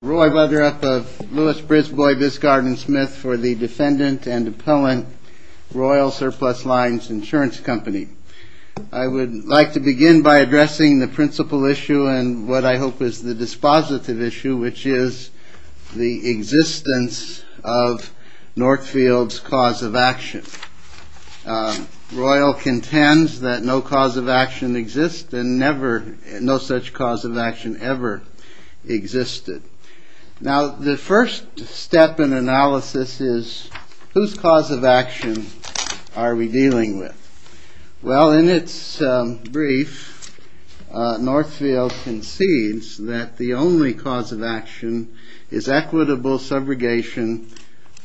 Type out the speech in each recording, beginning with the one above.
I would like to begin by addressing the principal issue and what I hope is the dispositive issue, which is the existence of Northfield's cause of action. Royal contends that no cause of action exists and no such cause of action ever existed. Now the first step in analysis is whose cause of action are we dealing with? Well, in its brief, Northfield concedes that the only cause of action is equitable subrogation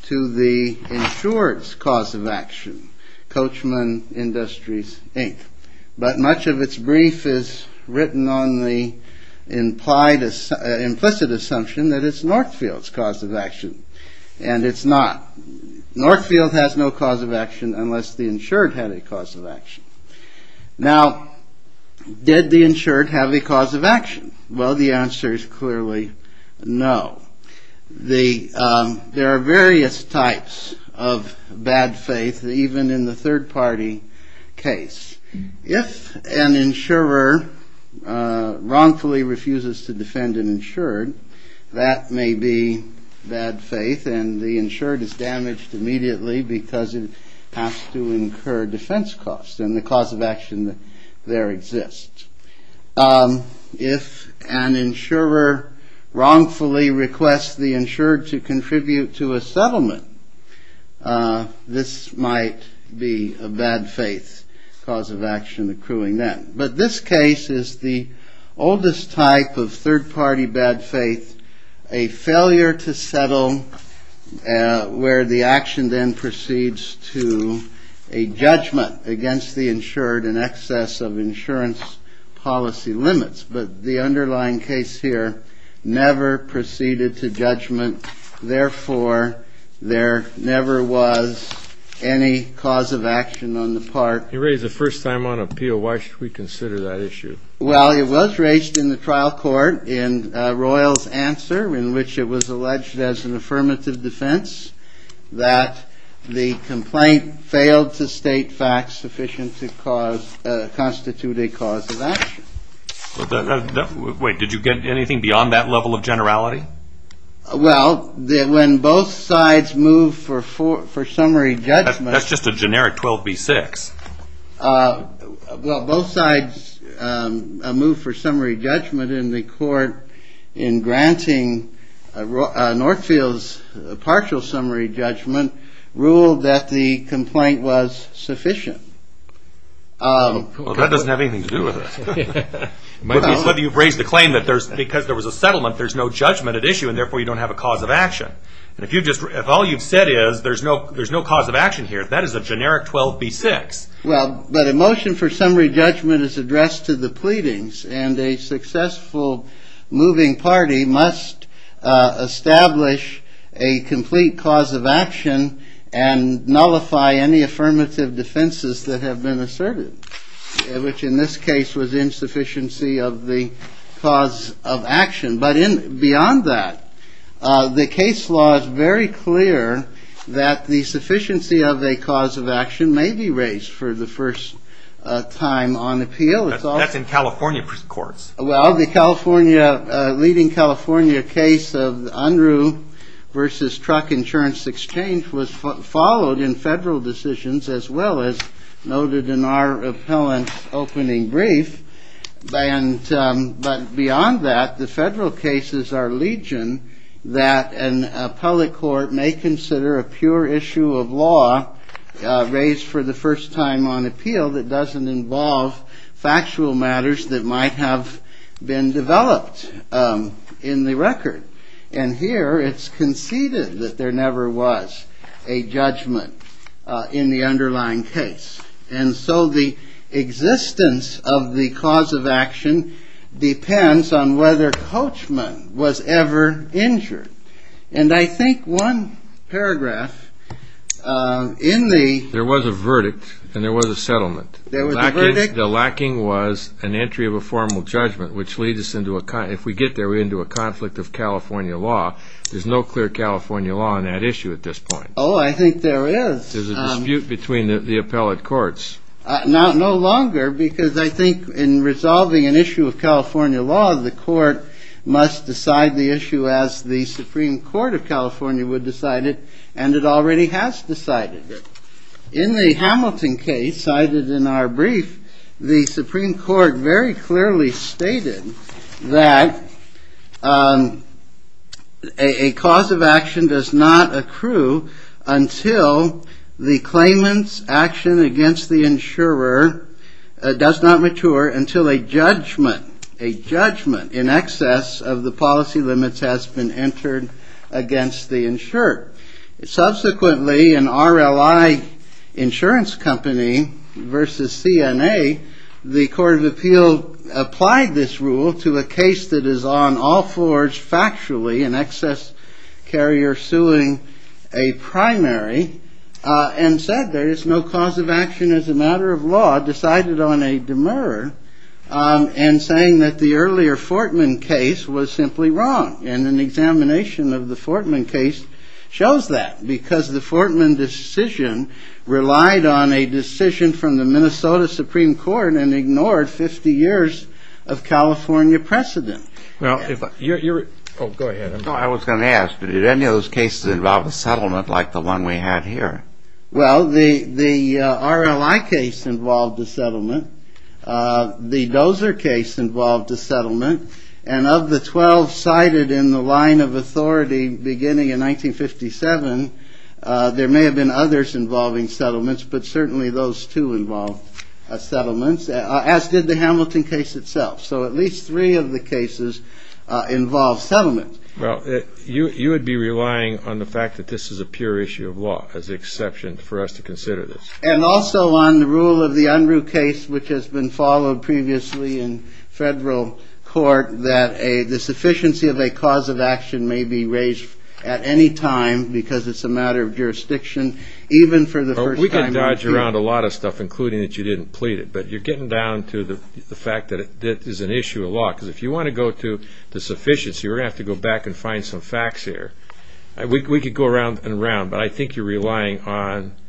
to the insured's cause of action, Coachman Industries, Inc. But much of its brief is written on the implicit assumption that it's Northfield's cause of action and it's not. Northfield has no cause of action unless the insured had a cause of action. Now, did the insured have a cause of action? Well, the answer is clearly no. There are various types of bad faith, even in the third party case. If an insurer wrongfully refuses to defend an insured, that may be bad faith and the insured is damaged immediately because it has to incur defense costs and the cause of action there exists. If an insurer wrongfully requests the insured to contribute to a settlement, this might be a bad faith cause of action accruing then. But this case is the oldest type of third party bad faith, a failure to settle where the action then proceeds to a judgment against the insured in excess of insurance costs. Now, if an insurer wrongfully requests the insured to contribute to a settlement, this might be a bad faith cause of action. But this case is the oldest type of third party bad faith, a failure to settle where the action then proceeds to a judgment against the insured in excess of insurance costs. Wait, did you get anything beyond that level of generality? Well, when both sides move for summary judgment... That's just a generic 12b-6. Well, both sides move for summary judgment in the court in granting Northfield's partial summary judgment ruled that the complaint was sufficient. Well, that doesn't have anything to do with it. It might be that you've raised the claim that because there was a settlement there's no judgment at issue and therefore you don't have a cause of action. If all you've said is there's no cause of action here, that is a generic 12b-6. Well, but a motion for summary judgment is addressed to the pleadings and a successful moving party must establish a complete cause of action and nullify any affirmative defenses that have been asserted, which in this case was insufficiency of the cause of action. But beyond that, the case law is very clear that the sufficiency of a cause of action may be raised for the first time on appeal. That's in California courts. Well, the leading California case of the Unruh versus truck insurance exchange was followed in federal decisions as well as noted in our appellant's opening brief. But beyond that, the federal cases are legion that an appellate court may consider a pure issue of law raised for the first time on appeal that doesn't involve factual matters that might have been developed in the record. And here it's conceded that there never was a judgment in the underlying case. And so the existence of the cause of action depends on whether Coachman was ever injured. And I think one paragraph in the… There was a verdict and there was a settlement. There was a verdict. The lacking was an entry of a formal judgment, which leads us into a – if we get there, we're into a conflict of California law. There's no clear California law on that issue at this point. Oh, I think there is. There's a dispute between the appellate courts. No longer, because I think in resolving an issue of California law, the court must decide the issue as the Supreme Court of California would decide it, and it already has decided it. In the Hamilton case cited in our brief, the Supreme Court very clearly stated that a cause of action does not accrue until the claimant's action against the insurer does not mature until a judgment, a judgment in excess of the policy limits has been entered against the insurer. Subsequently, an RLI insurance company versus CNA, the Court of Appeal applied this rule to a case that is on all floors factually, an excess carrier suing a primary, and said there is no cause of action as a matter of law, decided on a demurrer, and saying that the earlier Fortman case was simply wrong. And an examination of the Fortman case shows that, because the Fortman decision relied on a decision from the Minnesota Supreme Court and ignored 50 years of California precedent. Well, if you're – oh, go ahead. No, I was going to ask, but did any of those cases involve a settlement like the one we had here? Well, the RLI case involved a settlement. The Dozer case involved a settlement. And of the 12 cited in the line of authority beginning in 1957, there may have been others involving settlements, but certainly those two involved settlements, as did the Hamilton case itself. So at least three of the cases involved settlements. Well, you would be relying on the fact that this is a pure issue of law as the exception for us to consider this. And also on the rule of the Unruh case, which has been followed previously in federal court, that the sufficiency of a cause of action may be raised at any time because it's a matter of jurisdiction, even for the first time. Well, you dodged around a lot of stuff, including that you didn't plead it, but you're getting down to the fact that it is an issue of law. Because if you want to go to the sufficiency, we're going to have to go back and find some facts here. We could go around and around, but I think you're relying on –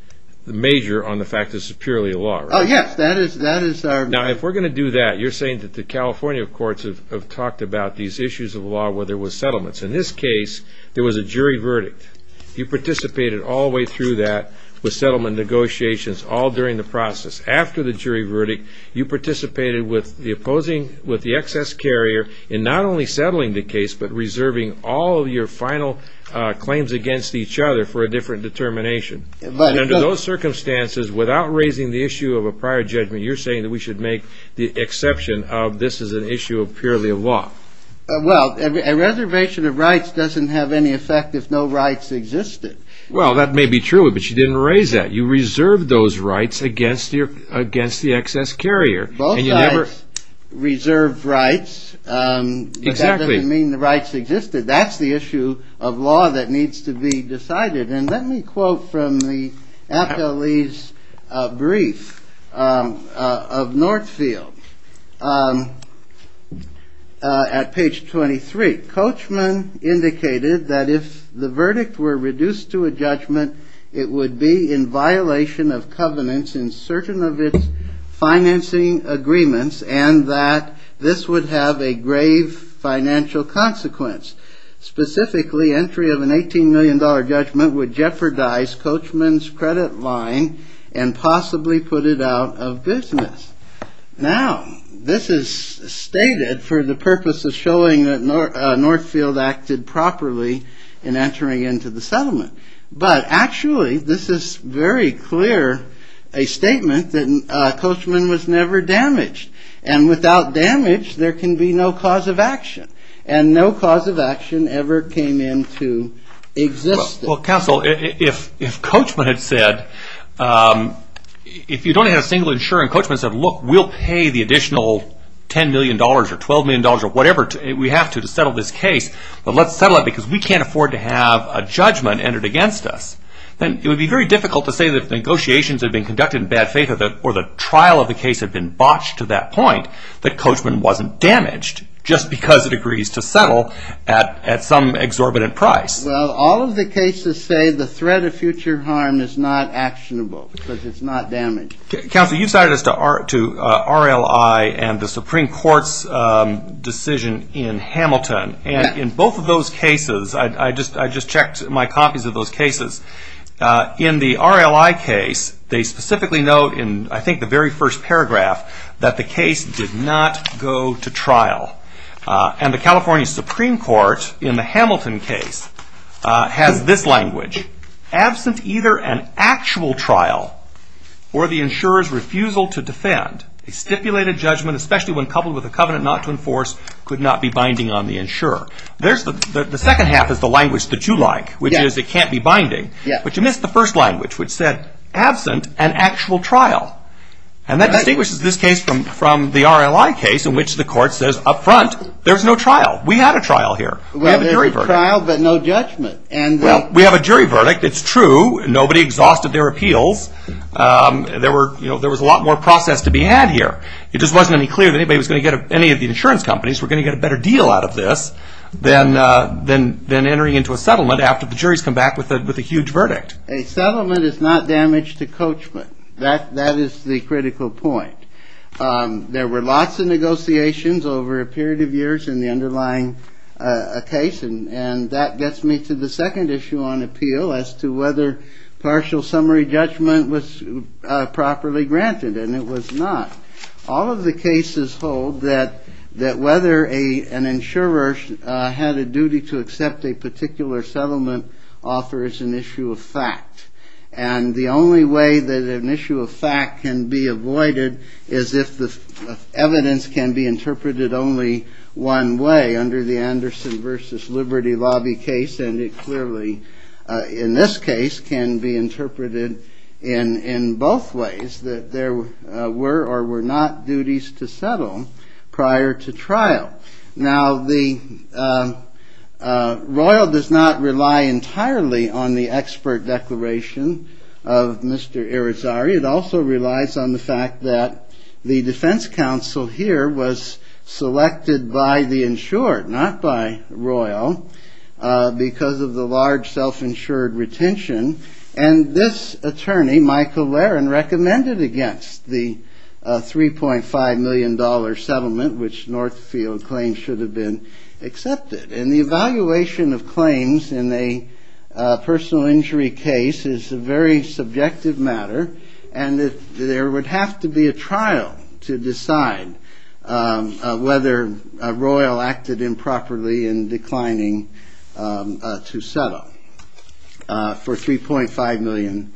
the major on the fact that this is purely a law, right? Oh, yes, that is our – Now, if we're going to do that, you're saying that the California courts have talked about these issues of law where there were settlements. In this case, there was a jury verdict. You participated all the way through that with settlement negotiations all during the process. After the jury verdict, you participated with the excess carrier in not only settling the case, but reserving all of your final claims against each other for a different determination. But under those circumstances, without raising the issue of a prior judgment, you're saying that we should make the exception of this is an issue of purely a law. Well, a reservation of rights doesn't have any effect if no rights existed. Well, that may be true, but you didn't raise that. You reserved those rights against the excess carrier. Both sides reserved rights. Exactly. That doesn't mean the rights existed. That's the issue of law that needs to be decided. And let me quote from the appellee's brief of Northfield at page 23. Coachman indicated that if the verdict were reduced to a judgment, it would be in violation of covenants in certain of its financing agreements and that this would have a grave financial consequence. Specifically, entry of an $18 million judgment would jeopardize Coachman's credit line and possibly put it out of business. Now, this is stated for the purpose of showing that Northfield acted properly in entering into the settlement. But actually, this is very clear, a statement that Coachman was never damaged. And without damage, there can be no cause of action. And no cause of action ever came into existence. Well, counsel, if Coachman had said, if you don't have a single insurance, Coachman said, look, we'll pay the additional $10 million or $12 million or whatever we have to settle this case. But let's settle it because we can't afford to have a judgment entered against us. Then it would be very difficult to say that if negotiations had been conducted in bad faith or the trial of the case had been botched to that point, that Coachman wasn't damaged just because it agrees to settle at some exorbitant price. Well, all of the cases say the threat of future harm is not actionable because it's not damaged. Counsel, you cited us to RLI and the Supreme Court's decision in Hamilton. And in both of those cases, I just checked my copies of those cases. In the RLI case, they specifically note in, I think, the very first paragraph that the case did not go to trial. And the California Supreme Court, in the Hamilton case, has this language. Absent either an actual trial or the insurer's refusal to defend, a stipulated judgment, especially when coupled with a covenant not to enforce, could not be binding on the insurer. The second half is the language that you like, which is it can't be binding. But you missed the first language, which said, absent an actual trial. And that distinguishes this case from the RLI case in which the court says, up front, there's no trial. We had a trial here. We have a jury verdict. Well, there's a trial but no judgment. Well, we have a jury verdict. It's true. Nobody exhausted their appeals. There was a lot more process to be had here. It just wasn't any clearer that any of the insurance companies were going to get a better deal out of this than entering into a settlement after the juries come back with a huge verdict. A settlement is not damage to coachmen. That is the critical point. There were lots of negotiations over a period of years in the underlying case. And that gets me to the second issue on appeal as to whether partial summary judgment was properly granted. And it was not. All of the cases hold that whether an insurer had a duty to accept a particular settlement offer is an issue of fact. And the only way that an issue of fact can be avoided is if the evidence can be interpreted only one way under the Anderson v. Liberty Lobby case. And it clearly, in this case, can be interpreted in both ways, that there were or were not duties to settle prior to trial. Now, the Royal does not rely entirely on the expert declaration of Mr. Irizarry. It also relies on the fact that the defense counsel here was selected by the insured, not by Royal, because of the large self-insured retention. And this attorney, Michael Laron, recommended against the $3.5 million settlement, which Northfield claims should have been accepted. And the evaluation of claims in a personal injury case is a very subjective matter. And there would have to be a trial to decide whether Royal acted improperly in declining to settle. For $3.5 million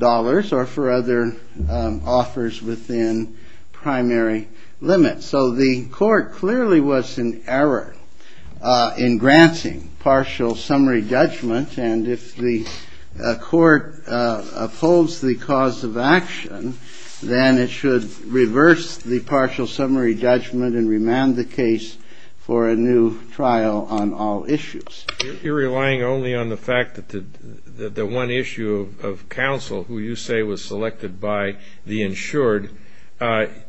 or for other offers within primary limits. So the court clearly was in error in granting partial summary judgment. And if the court upholds the cause of action, then it should reverse the partial summary judgment and remand the case for a new trial on all issues. You're relying only on the fact that the one issue of counsel, who you say was selected by the insured,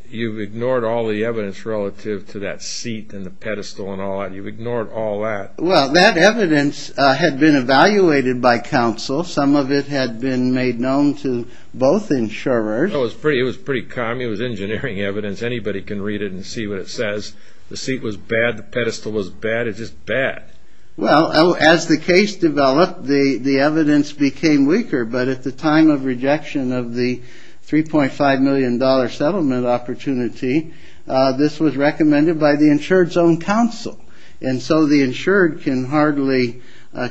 you've ignored all the evidence relative to that seat and the pedestal and all that. You've ignored all that. Well, that evidence had been evaluated by counsel. Some of it had been made known to both insurers. It was pretty common. It was engineering evidence. Anybody can read it and see what it says. The seat was bad. The pedestal was bad. It's just bad. Well, as the case developed, the evidence became weaker. But at the time of rejection of the $3.5 million settlement opportunity, this was recommended by the insured's own counsel. And so the insured can hardly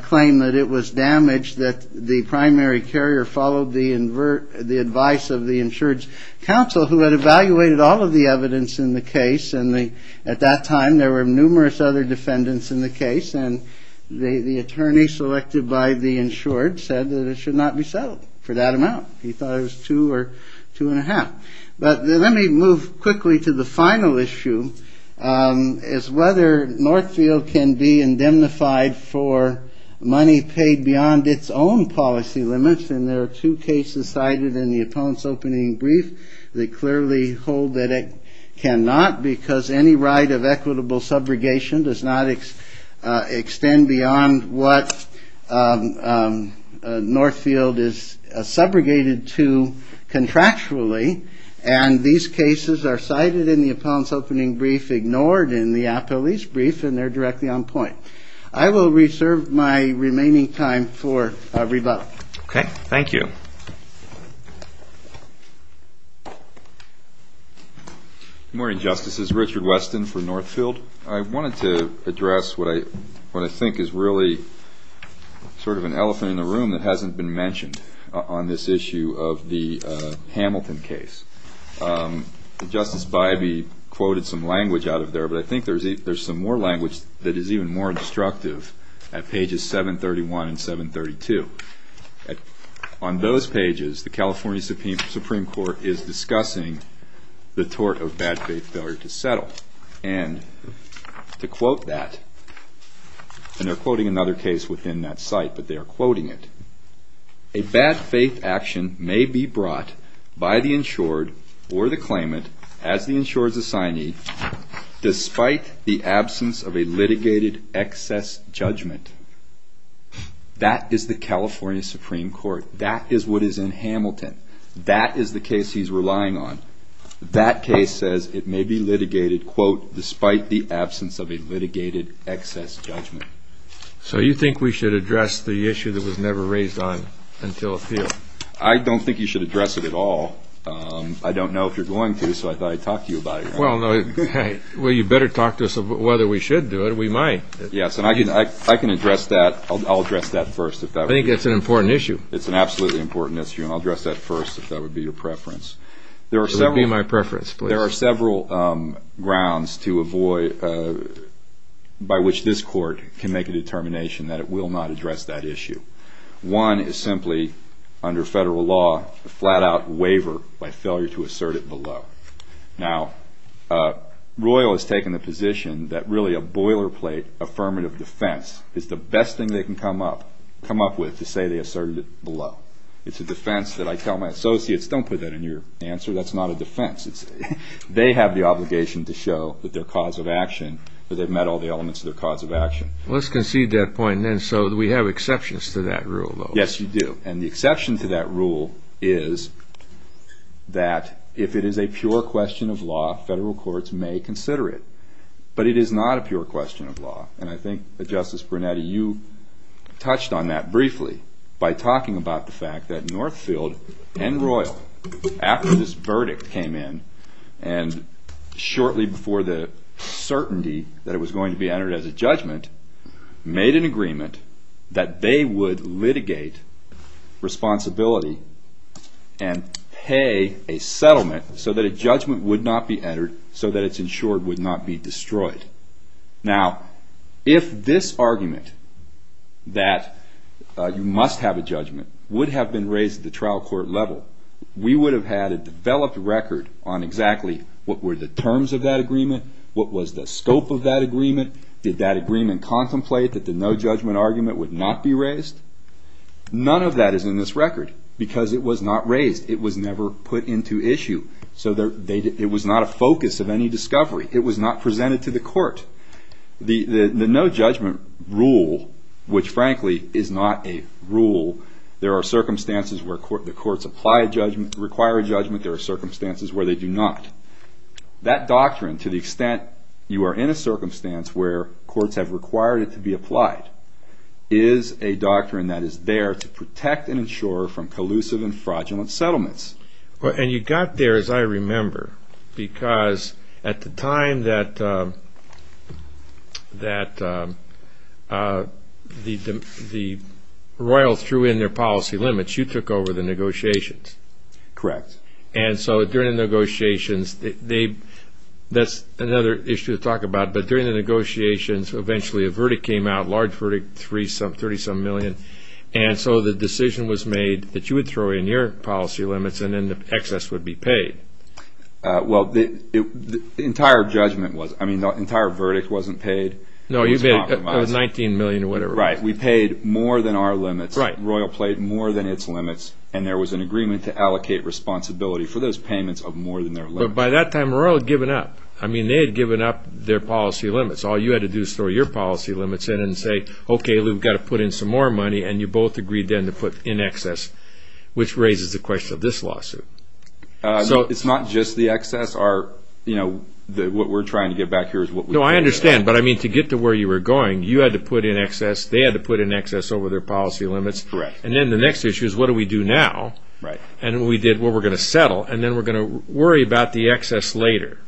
claim that it was damaged, that the primary carrier followed the advice of the insured's counsel, who had evaluated all of the evidence in the case. And at that time, there were numerous other defendants in the case. And the attorney selected by the insured said that it should not be settled for that amount. He thought it was two or two and a half. But let me move quickly to the final issue, is whether Northfield can be indemnified for money paid beyond its own policy limits. And there are two cases cited in the appellant's opening brief that clearly hold that it cannot because any right of equitable subrogation does not extend beyond what Northfield is subrogated to contractually. And these cases are cited in the appellant's opening brief, ignored in the appellee's brief, and they're directly on point. I will reserve my remaining time for rebuttal. Okay. Thank you. Good morning, Justices. Richard Weston for Northfield. I wanted to address what I think is really sort of an elephant in the room that hasn't been mentioned on this issue of the Hamilton case. Justice Bybee quoted some language out of there, but I think there's some more language that is even more instructive at pages 731 and 732. On those pages, the California Supreme Court is discussing the tort of bad faith failure to settle. And to quote that, and they're quoting another case within that site, but they are quoting it. A bad faith action may be brought by the insured or the claimant as the insured's assignee despite the absence of a litigated excess judgment. That is the California Supreme Court. That is what is in Hamilton. That is the case he's relying on. That case says it may be litigated, quote, despite the absence of a litigated excess judgment. So you think we should address the issue that was never raised on until appeal? I don't think you should address it at all. I don't know if you're going to, so I thought I'd talk to you about it. Well, you better talk to us about whether we should do it or we might. Yes, and I can address that. I'll address that first. I think it's an important issue. It's an absolutely important issue, and I'll address that first if that would be your preference. It would be my preference, please. There are several grounds by which this court can make a determination that it will not address that issue. One is simply, under federal law, a flat-out waiver by failure to assert it below. Now, Royal has taken the position that really a boilerplate affirmative defense is the best thing they can come up with to say they asserted it below. It's a defense that I tell my associates, don't put that in your answer. That's not a defense. They have the obligation to show that their cause of action, that they've met all the elements of their cause of action. Let's concede that point, then, so we have exceptions to that rule, though. Yes, you do, and the exception to that rule is that if it is a pure question of law, federal courts may consider it. But it is not a pure question of law, and I think that Justice Brunetti, you touched on that briefly by talking about the fact that Northfield and Royal, after this verdict came in, and shortly before the certainty that it was going to be entered as a judgment, made an agreement that they would litigate responsibility and pay a settlement so that a judgment would not be entered, so that it's ensured would not be destroyed. Now, if this argument, that you must have a judgment, would have been raised at the trial court level, we would have had a developed record on exactly what were the terms of that agreement, what was the scope of that agreement, did that agreement contemplate that the no judgment argument would not be raised? None of that is in this record, because it was not raised. It was never put into issue. It was not a focus of any discovery. It was not presented to the court. The no judgment rule, which frankly is not a rule, there are circumstances where the courts apply a judgment, require a judgment, there are circumstances where they do not. That doctrine, to the extent you are in a circumstance where courts have required it to be applied, is a doctrine that is there to protect and ensure from collusive and fraudulent settlements. And you got there, as I remember, because at the time that the royals threw in their policy limits, you took over the negotiations. Correct. And so during the negotiations, that's another issue to talk about, but during the negotiations eventually a verdict came out, a large verdict, 30-some million, and so the decision was made that you would throw in your policy limits and then the excess would be paid. Well, the entire verdict wasn't paid. No, it was 19 million or whatever. Right. We paid more than our limits. Right. The royal played more than its limits, and there was an agreement to allocate responsibility for those payments of more than their limits. But by that time the royal had given up. I mean, they had given up their policy limits. All you had to do is throw your policy limits in and say, okay, we've got to put in some more money, and you both agreed then to put in excess, which raises the question of this lawsuit. It's not just the excess. What we're trying to get back here is what we paid. No, I understand. But, I mean, to get to where you were going, you had to put in excess, they had to put in excess over their policy limits. Correct. And then the next issue is what do we do now? Right. And we did what we're going to settle, and then we're going to worry about the excess later.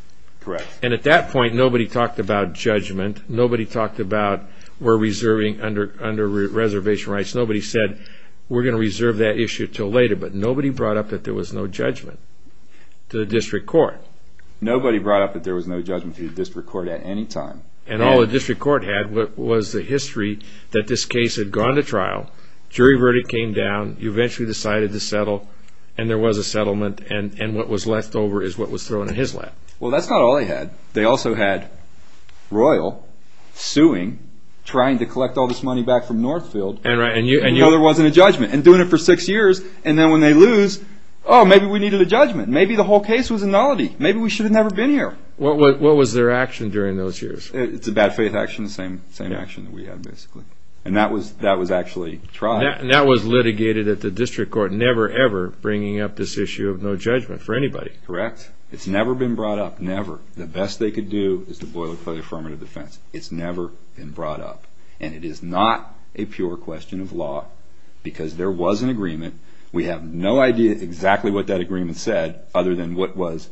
Correct. And at that point nobody talked about judgment. Nobody talked about we're reserving under reservation rights. Nobody said we're going to reserve that issue until later. But nobody brought up that there was no judgment to the district court. Nobody brought up that there was no judgment to the district court at any time. And all the district court had was the history that this case had gone to trial, jury verdict came down, you eventually decided to settle, and there was a settlement, and what was left over is what was thrown in his lap. Well, that's not all they had. They also had Royal suing, trying to collect all this money back from Northfield. Right. And there wasn't a judgment. And doing it for six years, and then when they lose, oh, maybe we needed a judgment. Maybe the whole case was a nullity. Maybe we should have never been here. What was their action during those years? It's a bad faith action, the same action that we had, basically. And that was actually tried. And that was litigated at the district court, never ever bringing up this issue of no judgment for anybody. Correct. It's never been brought up, never. The best they could do is to boil it for the affirmative defense. It's never been brought up. And it is not a pure question of law because there was an agreement. We have no idea exactly what that agreement said other than what was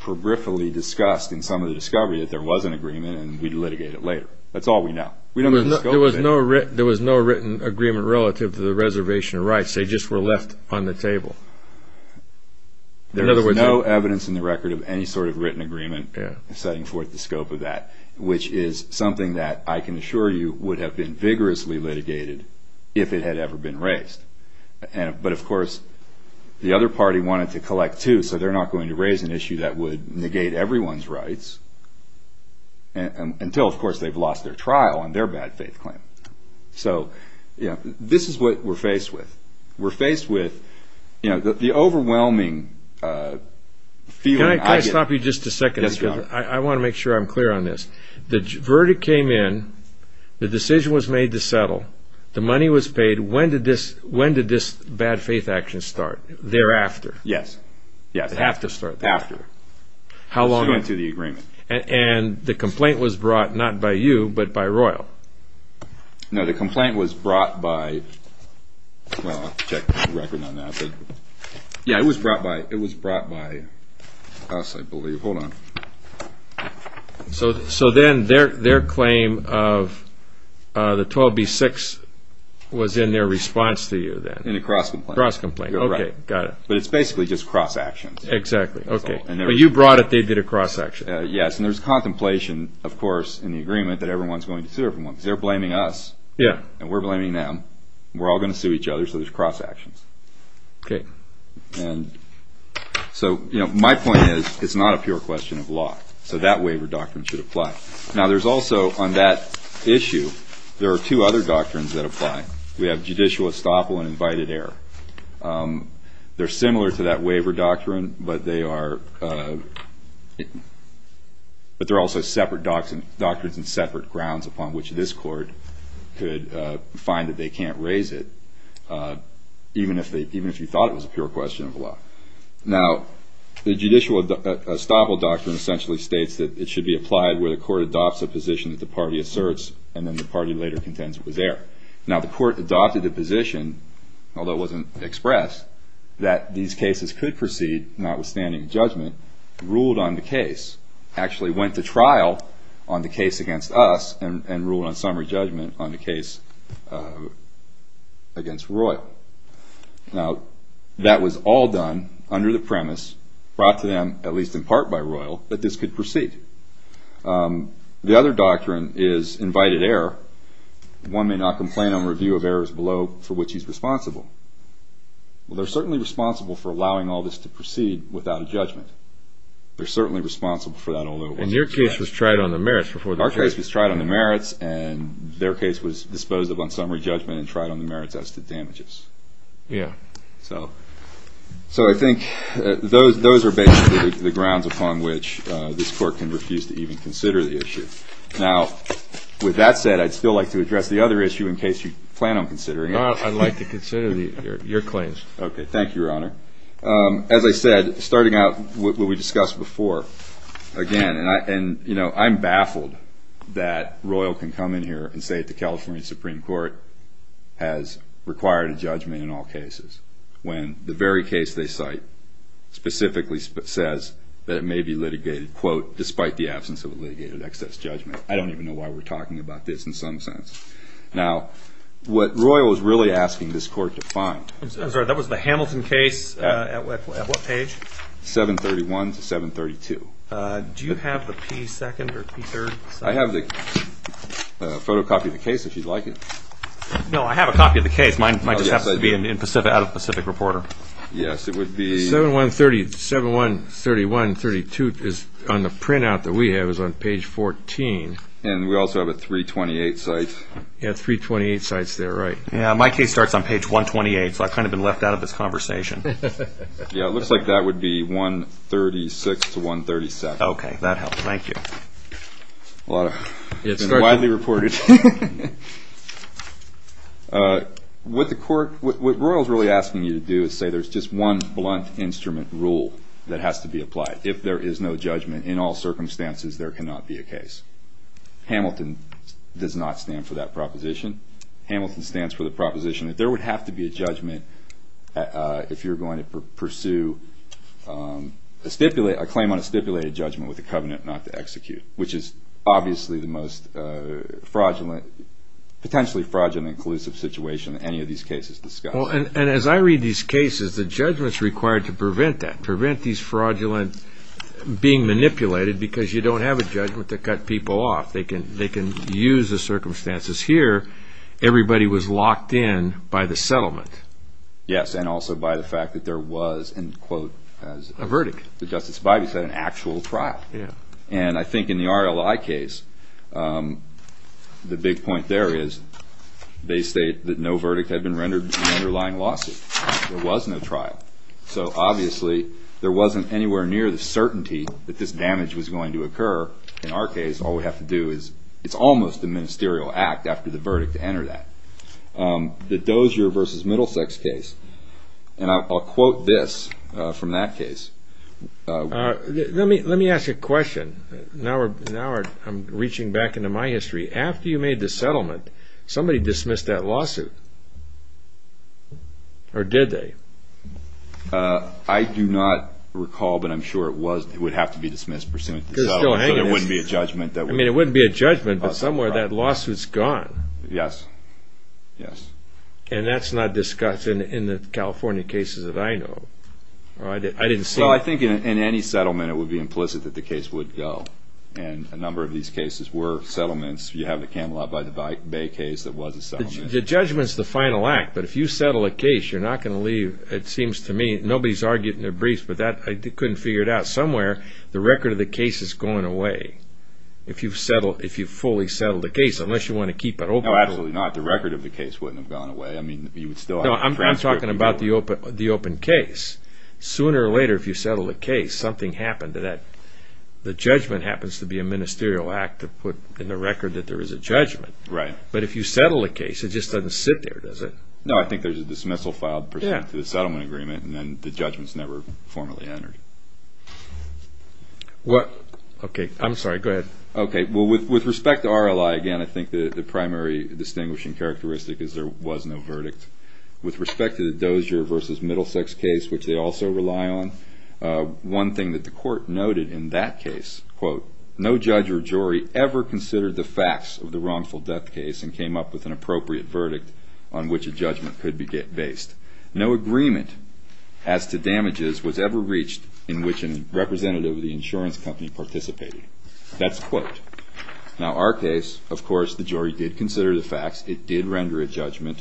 peripherally discussed in some of the discovery, that there was an agreement and we'd litigate it later. That's all we know. There was no written agreement relative to the reservation rights. They just were left on the table. There is no evidence in the record of any sort of written agreement setting forth the scope of that, which is something that I can assure you would have been vigorously litigated if it had ever been raised. But, of course, the other party wanted to collect, too, so they're not going to raise an issue that would negate everyone's rights until, of course, they've lost their trial on their bad faith claim. So this is what we're faced with. We're faced with the overwhelming feeling. Can I stop you just a second? I want to make sure I'm clear on this. The verdict came in. The decision was made to settle. The money was paid. When did this bad faith action start? Thereafter? Yes. It had to start there. After. How long? Submitting to the agreement. And the complaint was brought not by you but by Royal? No, the complaint was brought by, well, I'll check the record on that. Yeah, it was brought by us, I believe. Hold on. So then their claim of the 12B6 was in their response to you then? In a cross complaint. Cross complaint. Okay, got it. But it's basically just cross action. Exactly. Okay, but you brought it. They did a cross action. Yes, and there's contemplation, of course, in the agreement that everyone's going to sue everyone because they're blaming us. Yeah. And we're blaming them. We're all going to sue each other, so there's cross actions. Okay. And so, you know, my point is it's not a pure question of law. So that waiver doctrine should apply. Now there's also, on that issue, there are two other doctrines that apply. We have judicial estoppel and invited error. They're similar to that waiver doctrine, but they're also separate doctrines and separate grounds upon which this court could find that they can't raise it, even if you thought it was a pure question of law. Now the judicial estoppel doctrine essentially states that it should be applied where the court adopts a position that the party asserts and then the party later contends it was there. Now the court adopted a position, although it wasn't expressed, that these cases could proceed, notwithstanding judgment, ruled on the case, actually went to trial on the case against us and ruled on summary judgment on the case against Royall. Now that was all done under the premise, brought to them at least in part by Royall, that this could proceed. The other doctrine is invited error. One may not complain on review of errors below for which he's responsible. Well, they're certainly responsible for allowing all this to proceed without a judgment. They're certainly responsible for that, although it wasn't expressed. And your case was tried on the merits before the case. Our case was tried on the merits, and their case was disposed of on summary judgment and tried on the merits as to damages. Yeah. So I think those are basically the grounds upon which this court can refuse to even consider the issue. Now, with that said, I'd still like to address the other issue in case you plan on considering it. I'd like to consider your claims. Thank you, Your Honor. As I said, starting out what we discussed before, again, and I'm baffled that Royall can come in here and say that the California Supreme Court has required a judgment in all cases, when the very case they cite specifically says that it may be litigated, quote, despite the absence of a litigated excess judgment. I don't even know why we're talking about this in some sense. Now, what Royall is really asking this court to find – I'm sorry, that was the Hamilton case at what page? 731 to 732. Do you have the P2nd or P3rd? I have the photocopy of the case, if you'd like it. No, I have a copy of the case. Mine just happens to be out of Pacific Reporter. Yes, it would be – 7131, 7131, 7132 is on the printout that we have. It was on page 14. And we also have a 328 cite. Yes, 328 cites there, right. My case starts on page 128, so I've kind of been left out of this conversation. Yes, it looks like that would be 136 to 137. Okay, that helps. Thank you. It's been widely reported. What Royall is really asking you to do is say there's just one blunt instrument rule that has to be applied. If there is no judgment in all circumstances, there cannot be a case. Hamilton does not stand for that proposition. Hamilton stands for the proposition that there would have to be a judgment if you're going to pursue a claim on a stipulated judgment with a covenant not to execute, which is obviously the most fraudulent – potentially fraudulent and collusive situation in any of these cases discussed. And as I read these cases, the judgment's required to prevent that, prevent these fraudulent – being manipulated because you don't have a judgment to cut people off. They can use the circumstances here. Everybody was locked in by the settlement. Yes, and also by the fact that there was, and quote – A verdict. As Justice Bidey said, an actual trial. Yeah. And I think in the RLI case, the big point there is they state that no verdict had been rendered in the underlying lawsuit. There was no trial. So obviously there wasn't anywhere near the certainty that this damage was going to occur. In our case, all we have to do is – it's almost a ministerial act after the verdict to enter that. The Dozier v. Middlesex case, and I'll quote this from that case. Let me ask a question. Now I'm reaching back into my history. After you made the settlement, somebody dismissed that lawsuit, or did they? I do not recall, but I'm sure it was – it would have to be dismissed pursuant to the settlement. Because it's still hanging there. So there wouldn't be a judgment that would – I mean, it wouldn't be a judgment, but somewhere that lawsuit's gone. Yes, yes. And that's not discussed in the California cases that I know. I didn't see it. Well, I think in any settlement it would be implicit that the case would go. And a number of these cases were settlements. You have the Camelot v. Bay case that was a settlement. The judgment's the final act, but if you settle a case, you're not going to leave. It seems to me – nobody's argued in their briefs, but that – I couldn't figure it out. Somewhere the record of the case is going away if you've fully settled the case, unless you want to keep it open. No, absolutely not. The record of the case wouldn't have gone away. I mean, you would still have to transfer it. No, I'm talking about the open case. Sooner or later, if you settle a case, something happened to that. The judgment happens to be a ministerial act to put in the record that there is a judgment. Right. But if you settle a case, it just doesn't sit there, does it? No, I think there's a dismissal filed pursuant to the settlement agreement, and then the judgment's never formally entered. What – okay, I'm sorry. Go ahead. Okay, well, with respect to RLI, again, I think the primary distinguishing characteristic is there was no verdict. With respect to the Dozier v. Middlesex case, which they also rely on, one thing that the court noted in that case, quote, no judge or jury ever considered the facts of the wrongful death case and came up with an appropriate verdict on which a judgment could be based. No agreement as to damages was ever reached in which a representative of the insurance company participated. That's a quote. Now, our case, of course, the jury did consider the facts. It did render a judgment.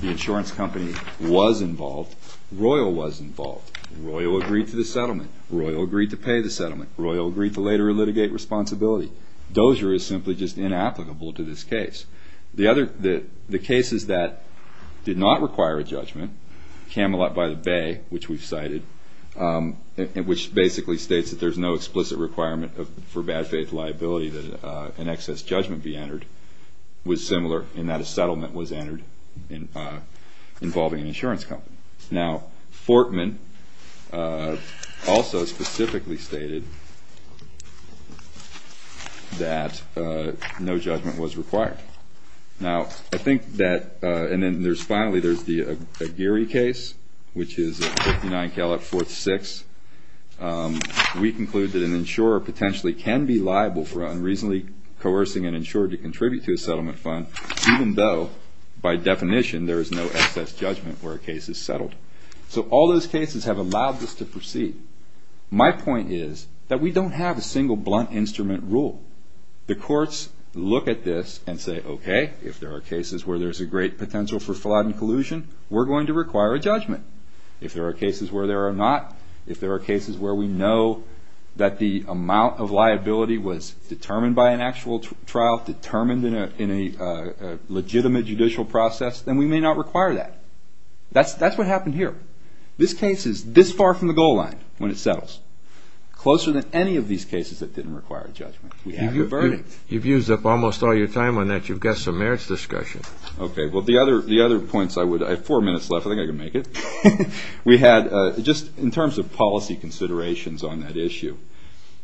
The insurance company was involved. Royal was involved. Royal agreed to the settlement. Royal agreed to pay the settlement. Royal agreed to later litigate responsibility. Dozier is simply just inapplicable to this case. The other – the cases that did not require a judgment, Camelot v. The Bay, which we've cited, which basically states that there's no explicit requirement for bad faith liability that an excess judgment be entered, was similar in that a settlement was entered involving an insurance company. Now, Fortman also specifically stated that no judgment was required. Now, I think that – and then finally there's the Aguirre case, which is 59 Camelot v. 6. We conclude that an insurer potentially can be liable for unreasonably coercing an insurer to contribute to a settlement fund, even though, by definition, there is no excess judgment where a case is settled. So all those cases have allowed this to proceed. My point is that we don't have a single blunt instrument rule. The courts look at this and say, okay, if there are cases where there's a great potential for fraud and collusion, we're going to require a judgment. If there are cases where there are not, if there are cases where we know that the amount of liability was determined by an actual trial, determined in a legitimate judicial process, then we may not require that. That's what happened here. This case is this far from the goal line when it settles, closer than any of these cases that didn't require a judgment. We have a verdict. You've used up almost all your time on that. You've got some merits discussion. Okay, well, the other points I would – I have four minutes left. I think I can make it. We had, just in terms of policy considerations on that issue,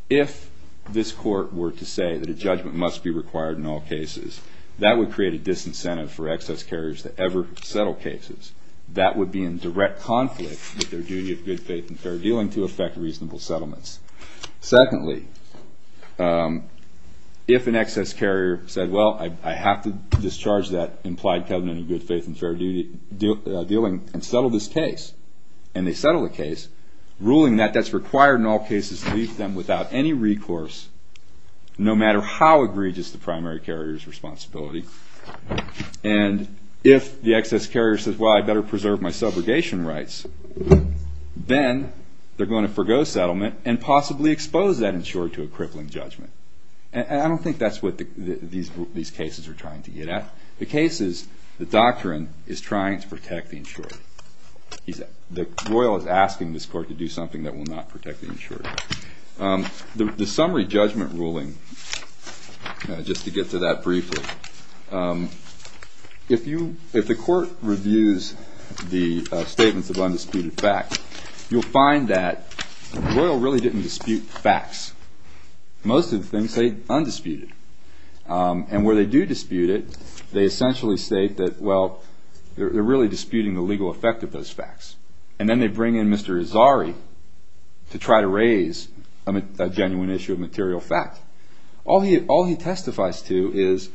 if this court were to say that a judgment must be required in all cases, that would create a disincentive for excess carriers to ever settle cases. That would be in direct conflict with their duty of good faith and fair dealing to effect reasonable settlements. Secondly, if an excess carrier said, well, I have to discharge that implied covenant of good faith and fair dealing and settle this case, and they settle the case, ruling that that's required in all cases to leave them without any recourse, no matter how egregious the primary carrier's responsibility, and if the excess carrier says, well, I better preserve my subrogation rights, then they're going to forego settlement and possibly expose that insurer to a crippling judgment. And I don't think that's what these cases are trying to get at. The case is the doctrine is trying to protect the insurer. The royal is asking this court to do something that will not protect the insurer. The summary judgment ruling, just to get to that briefly, if the court reviews the statements of undisputed facts, you'll find that the royal really didn't dispute facts. Most of the things say undisputed. And where they do dispute it, they essentially state that, well, they're really disputing the legal effect of those facts. And then they bring in Mr. Azari to try to raise a genuine issue of material fact. All he testifies to is,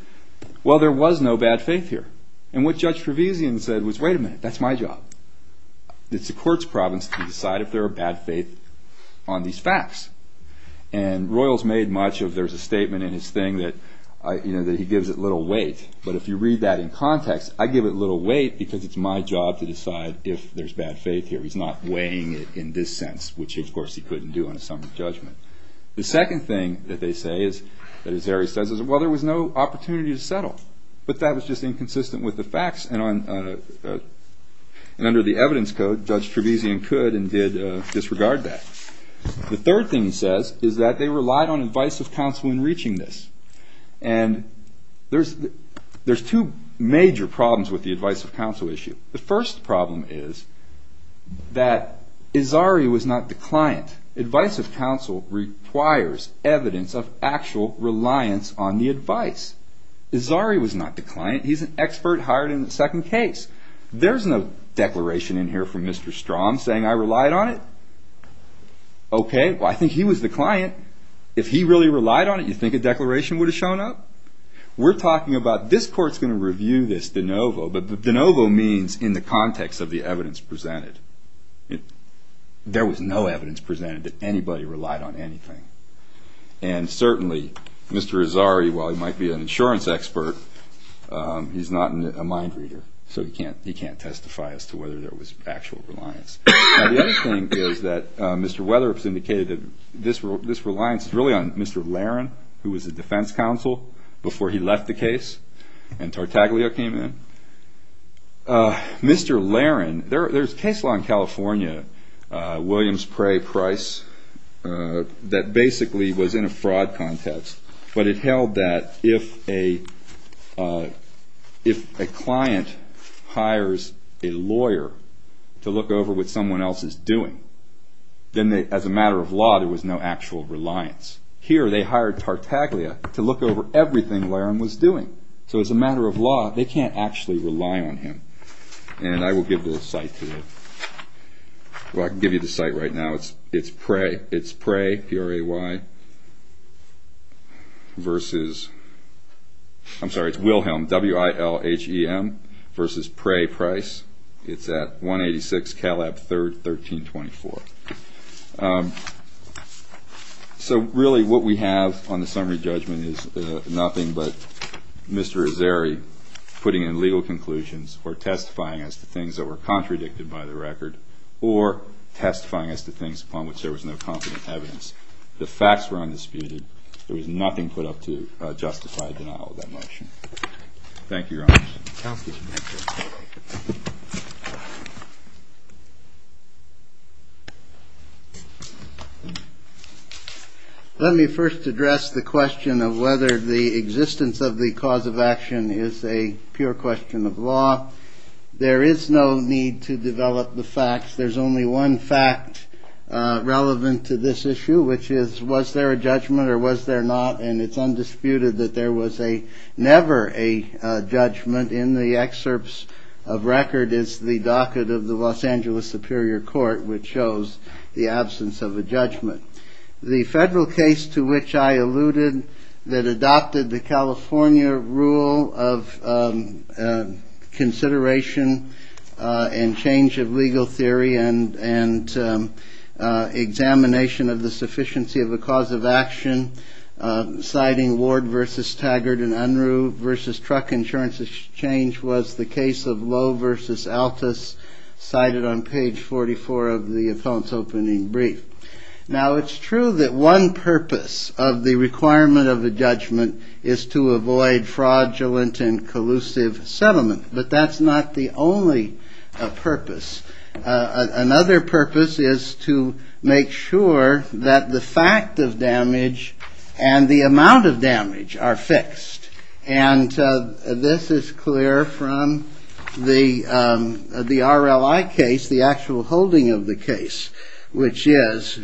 well, there was no bad faith here. And what Judge Trevesian said was, wait a minute, that's my job. It's the court's province to decide if there are bad faith on these facts. And royals made much of there's a statement in his thing that he gives it little weight. But if you read that in context, I give it little weight because it's my job to decide if there's bad faith here. He's not weighing it in this sense, which, of course, he couldn't do on a summary judgment. The second thing that they say that Azari says is, well, there was no opportunity to settle. But that was just inconsistent with the facts. And under the evidence code, Judge Trevesian could and did disregard that. The third thing he says is that they relied on advice of counsel in reaching this. And there's two major problems with the advice of counsel issue. Advice of counsel requires evidence of actual reliance on the advice. Azari was not the client. He's an expert hired in the second case. There's no declaration in here from Mr. Strom saying I relied on it. OK, well, I think he was the client. If he really relied on it, you think a declaration would have shown up? We're talking about this court's going to review this de novo. But de novo means in the context of the evidence presented. There was no evidence presented that anybody relied on anything. And certainly, Mr. Azari, while he might be an insurance expert, he's not a mind reader. So he can't testify as to whether there was actual reliance. The other thing is that Mr. Weatherup has indicated that this reliance is really on Mr. Laron, who was the defense counsel before he left the case and Tartaglia came in. Mr. Laron, there's case law in California, Williams, Pray, Price, that basically was in a fraud context. But it held that if a client hires a lawyer to look over what someone else is doing, then as a matter of law, there was no actual reliance. Here, they hired Tartaglia to look over everything Laron was doing. So as a matter of law, they can't actually rely on him. And I will give the site to you. Well, I can give you the site right now. It's Pray, P-R-A-Y, versus, I'm sorry, it's Wilhelm, W-I-L-H-E-M, versus Pray, Price. It's at 186 Calab 3rd, 1324. So, really, what we have on the summary judgment is nothing but Mr. Azari putting in legal conclusions or testifying as to things that were contradicted by the record or testifying as to things upon which there was no confident evidence. The facts were undisputed. There was nothing put up to justify a denial of that motion. Thank you, Your Honor. Counsel, please. Let me first address the question of whether the existence of the cause of action is a pure question of law. There is no need to develop the facts. There's only one fact relevant to this issue, which is, was there a judgment or was there not? And it's undisputed that there was never a judgment. In the excerpts of record is the docket of the Los Angeles Superior Court, which shows the absence of a judgment. The federal case to which I alluded that adopted the California rule of consideration and change of legal theory and examination of the sufficiency of a cause of action, citing Ward v. Taggart and Unruh v. Truck Insurance Exchange was the case of Lowe v. Altus, cited on page 44 of the opponent's opening brief. Now, it's true that one purpose of the requirement of a judgment is to avoid fraudulent and collusive settlement. But that's not the only purpose. Another purpose is to make sure that the fact of damage and the amount of damage are fixed. And this is clear from the RLI case, the actual holding of the case, which is,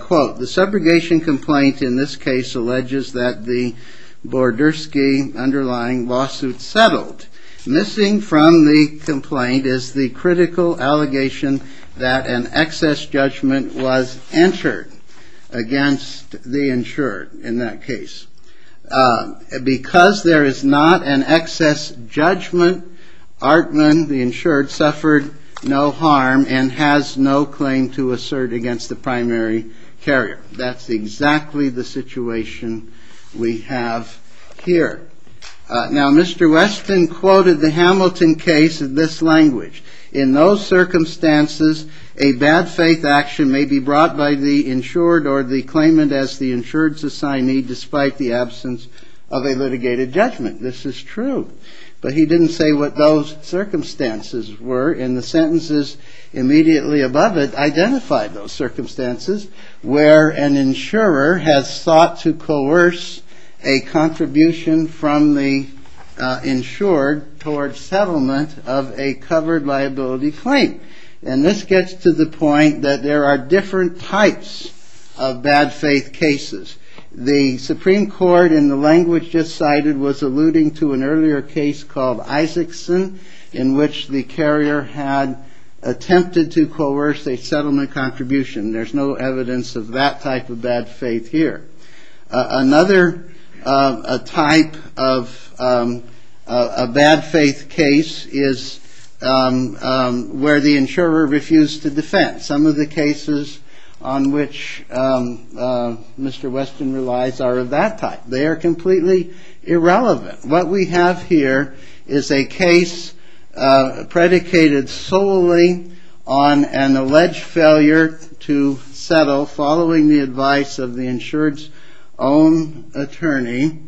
quote, the subrogation complaint in this case alleges that the Bordersky underlying lawsuit settled. Missing from the complaint is the critical allegation that an excess judgment was entered against the insured in that case. Because there is not an excess judgment, Artman, the insured, suffered no harm and has no claim to assert against the primary carrier. That's exactly the situation we have here. Now, Mr. Weston quoted the Hamilton case in this language. In those circumstances, a bad faith action may be brought by the insured or the claimant as the insured's assignee despite the absence of a litigated judgment. This is true. But he didn't say what those circumstances were. And the sentences immediately above it identified those circumstances where an insurer has sought to coerce a contribution from the insured towards settlement of a covered liability claim. And this gets to the point that there are different types of bad faith cases. The Supreme Court in the language just cited was alluding to an earlier case called Isaacson in which the carrier had attempted to coerce a settlement contribution. There's no evidence of that type of bad faith here. Another type of bad faith case is where the insurer refused to defend. Some of the cases on which Mr. Weston relies are of that type. They are completely irrelevant. What we have here is a case predicated solely on an alleged failure to settle following the advice of the insured's own attorney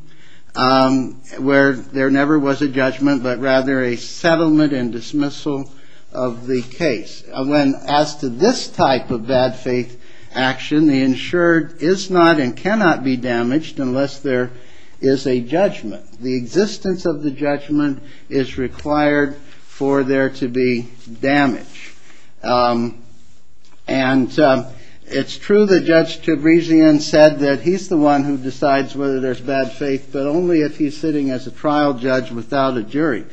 where there never was a judgment but rather a settlement and dismissal of the case. As to this type of bad faith action, the insured is not and cannot be damaged unless there is a judgment. The existence of the judgment is required for there to be damage. And it's true that Judge Tabrizian said that he's the one who decides whether there's bad faith but only if he's sitting as a trial judge without a jury.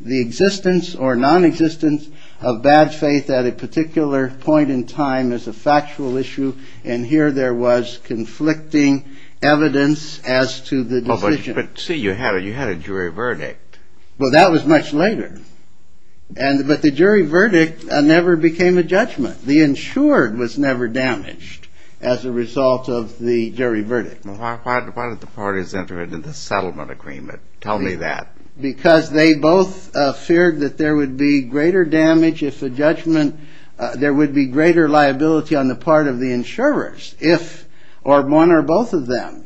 The existence or nonexistence of bad faith at a particular point in time is a factual issue, and here there was conflicting evidence as to the decision. But see, you had a jury verdict. Well, that was much later. But the jury verdict never became a judgment. The insured was never damaged as a result of the jury verdict. Why did the parties enter into the settlement agreement? Tell me that. Because they both feared that there would be greater damage if a judgment, there would be greater liability on the part of the insurers if, or one or both of them,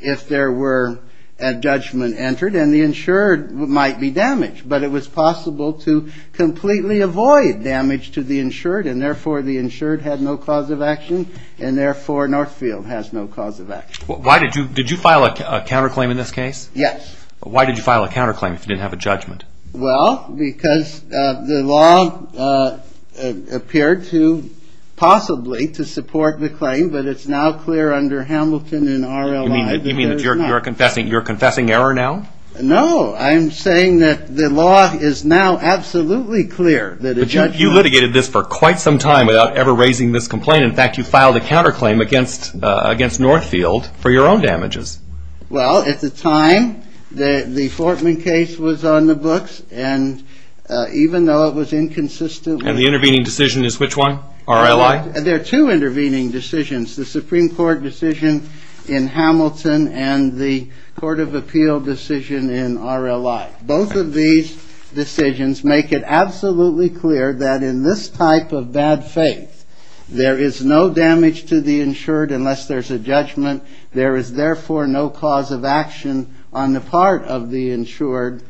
but it was possible to completely avoid damage to the insured, and therefore the insured had no cause of action, and therefore Northfield has no cause of action. Why did you, did you file a counterclaim in this case? Yes. Why did you file a counterclaim if you didn't have a judgment? Well, because the law appeared to possibly to support the claim, but it's now clear under Hamilton and RLI that there is not. You mean that you're confessing error now? No. I'm saying that the law is now absolutely clear that a judgment. But you litigated this for quite some time without ever raising this complaint. In fact, you filed a counterclaim against Northfield for your own damages. Well, at the time, the Fortman case was on the books, and even though it was inconsistent. And the intervening decision is which one? RLI? There are two intervening decisions. The Supreme Court decision in Hamilton and the Court of Appeal decision in RLI. Both of these decisions make it absolutely clear that in this type of bad faith, there is no damage to the insured unless there's a judgment. There is therefore no cause of action on the part of the insured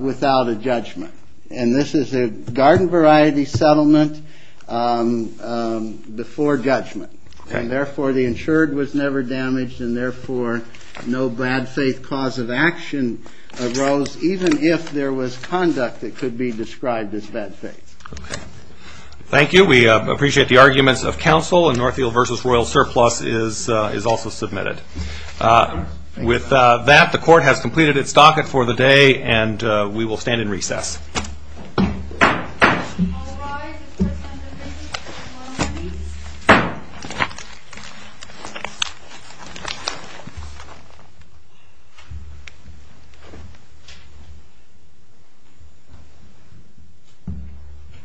without a judgment. And this is a garden variety settlement before judgment. And therefore, the insured was never damaged, and therefore no bad faith cause of action arose even if there was conduct that could be described as bad faith. Thank you. We appreciate the arguments of counsel, and Northfield v. Royal surplus is also submitted. With that, the Court has completed its docket for the day, and we will stand in recess. All rise.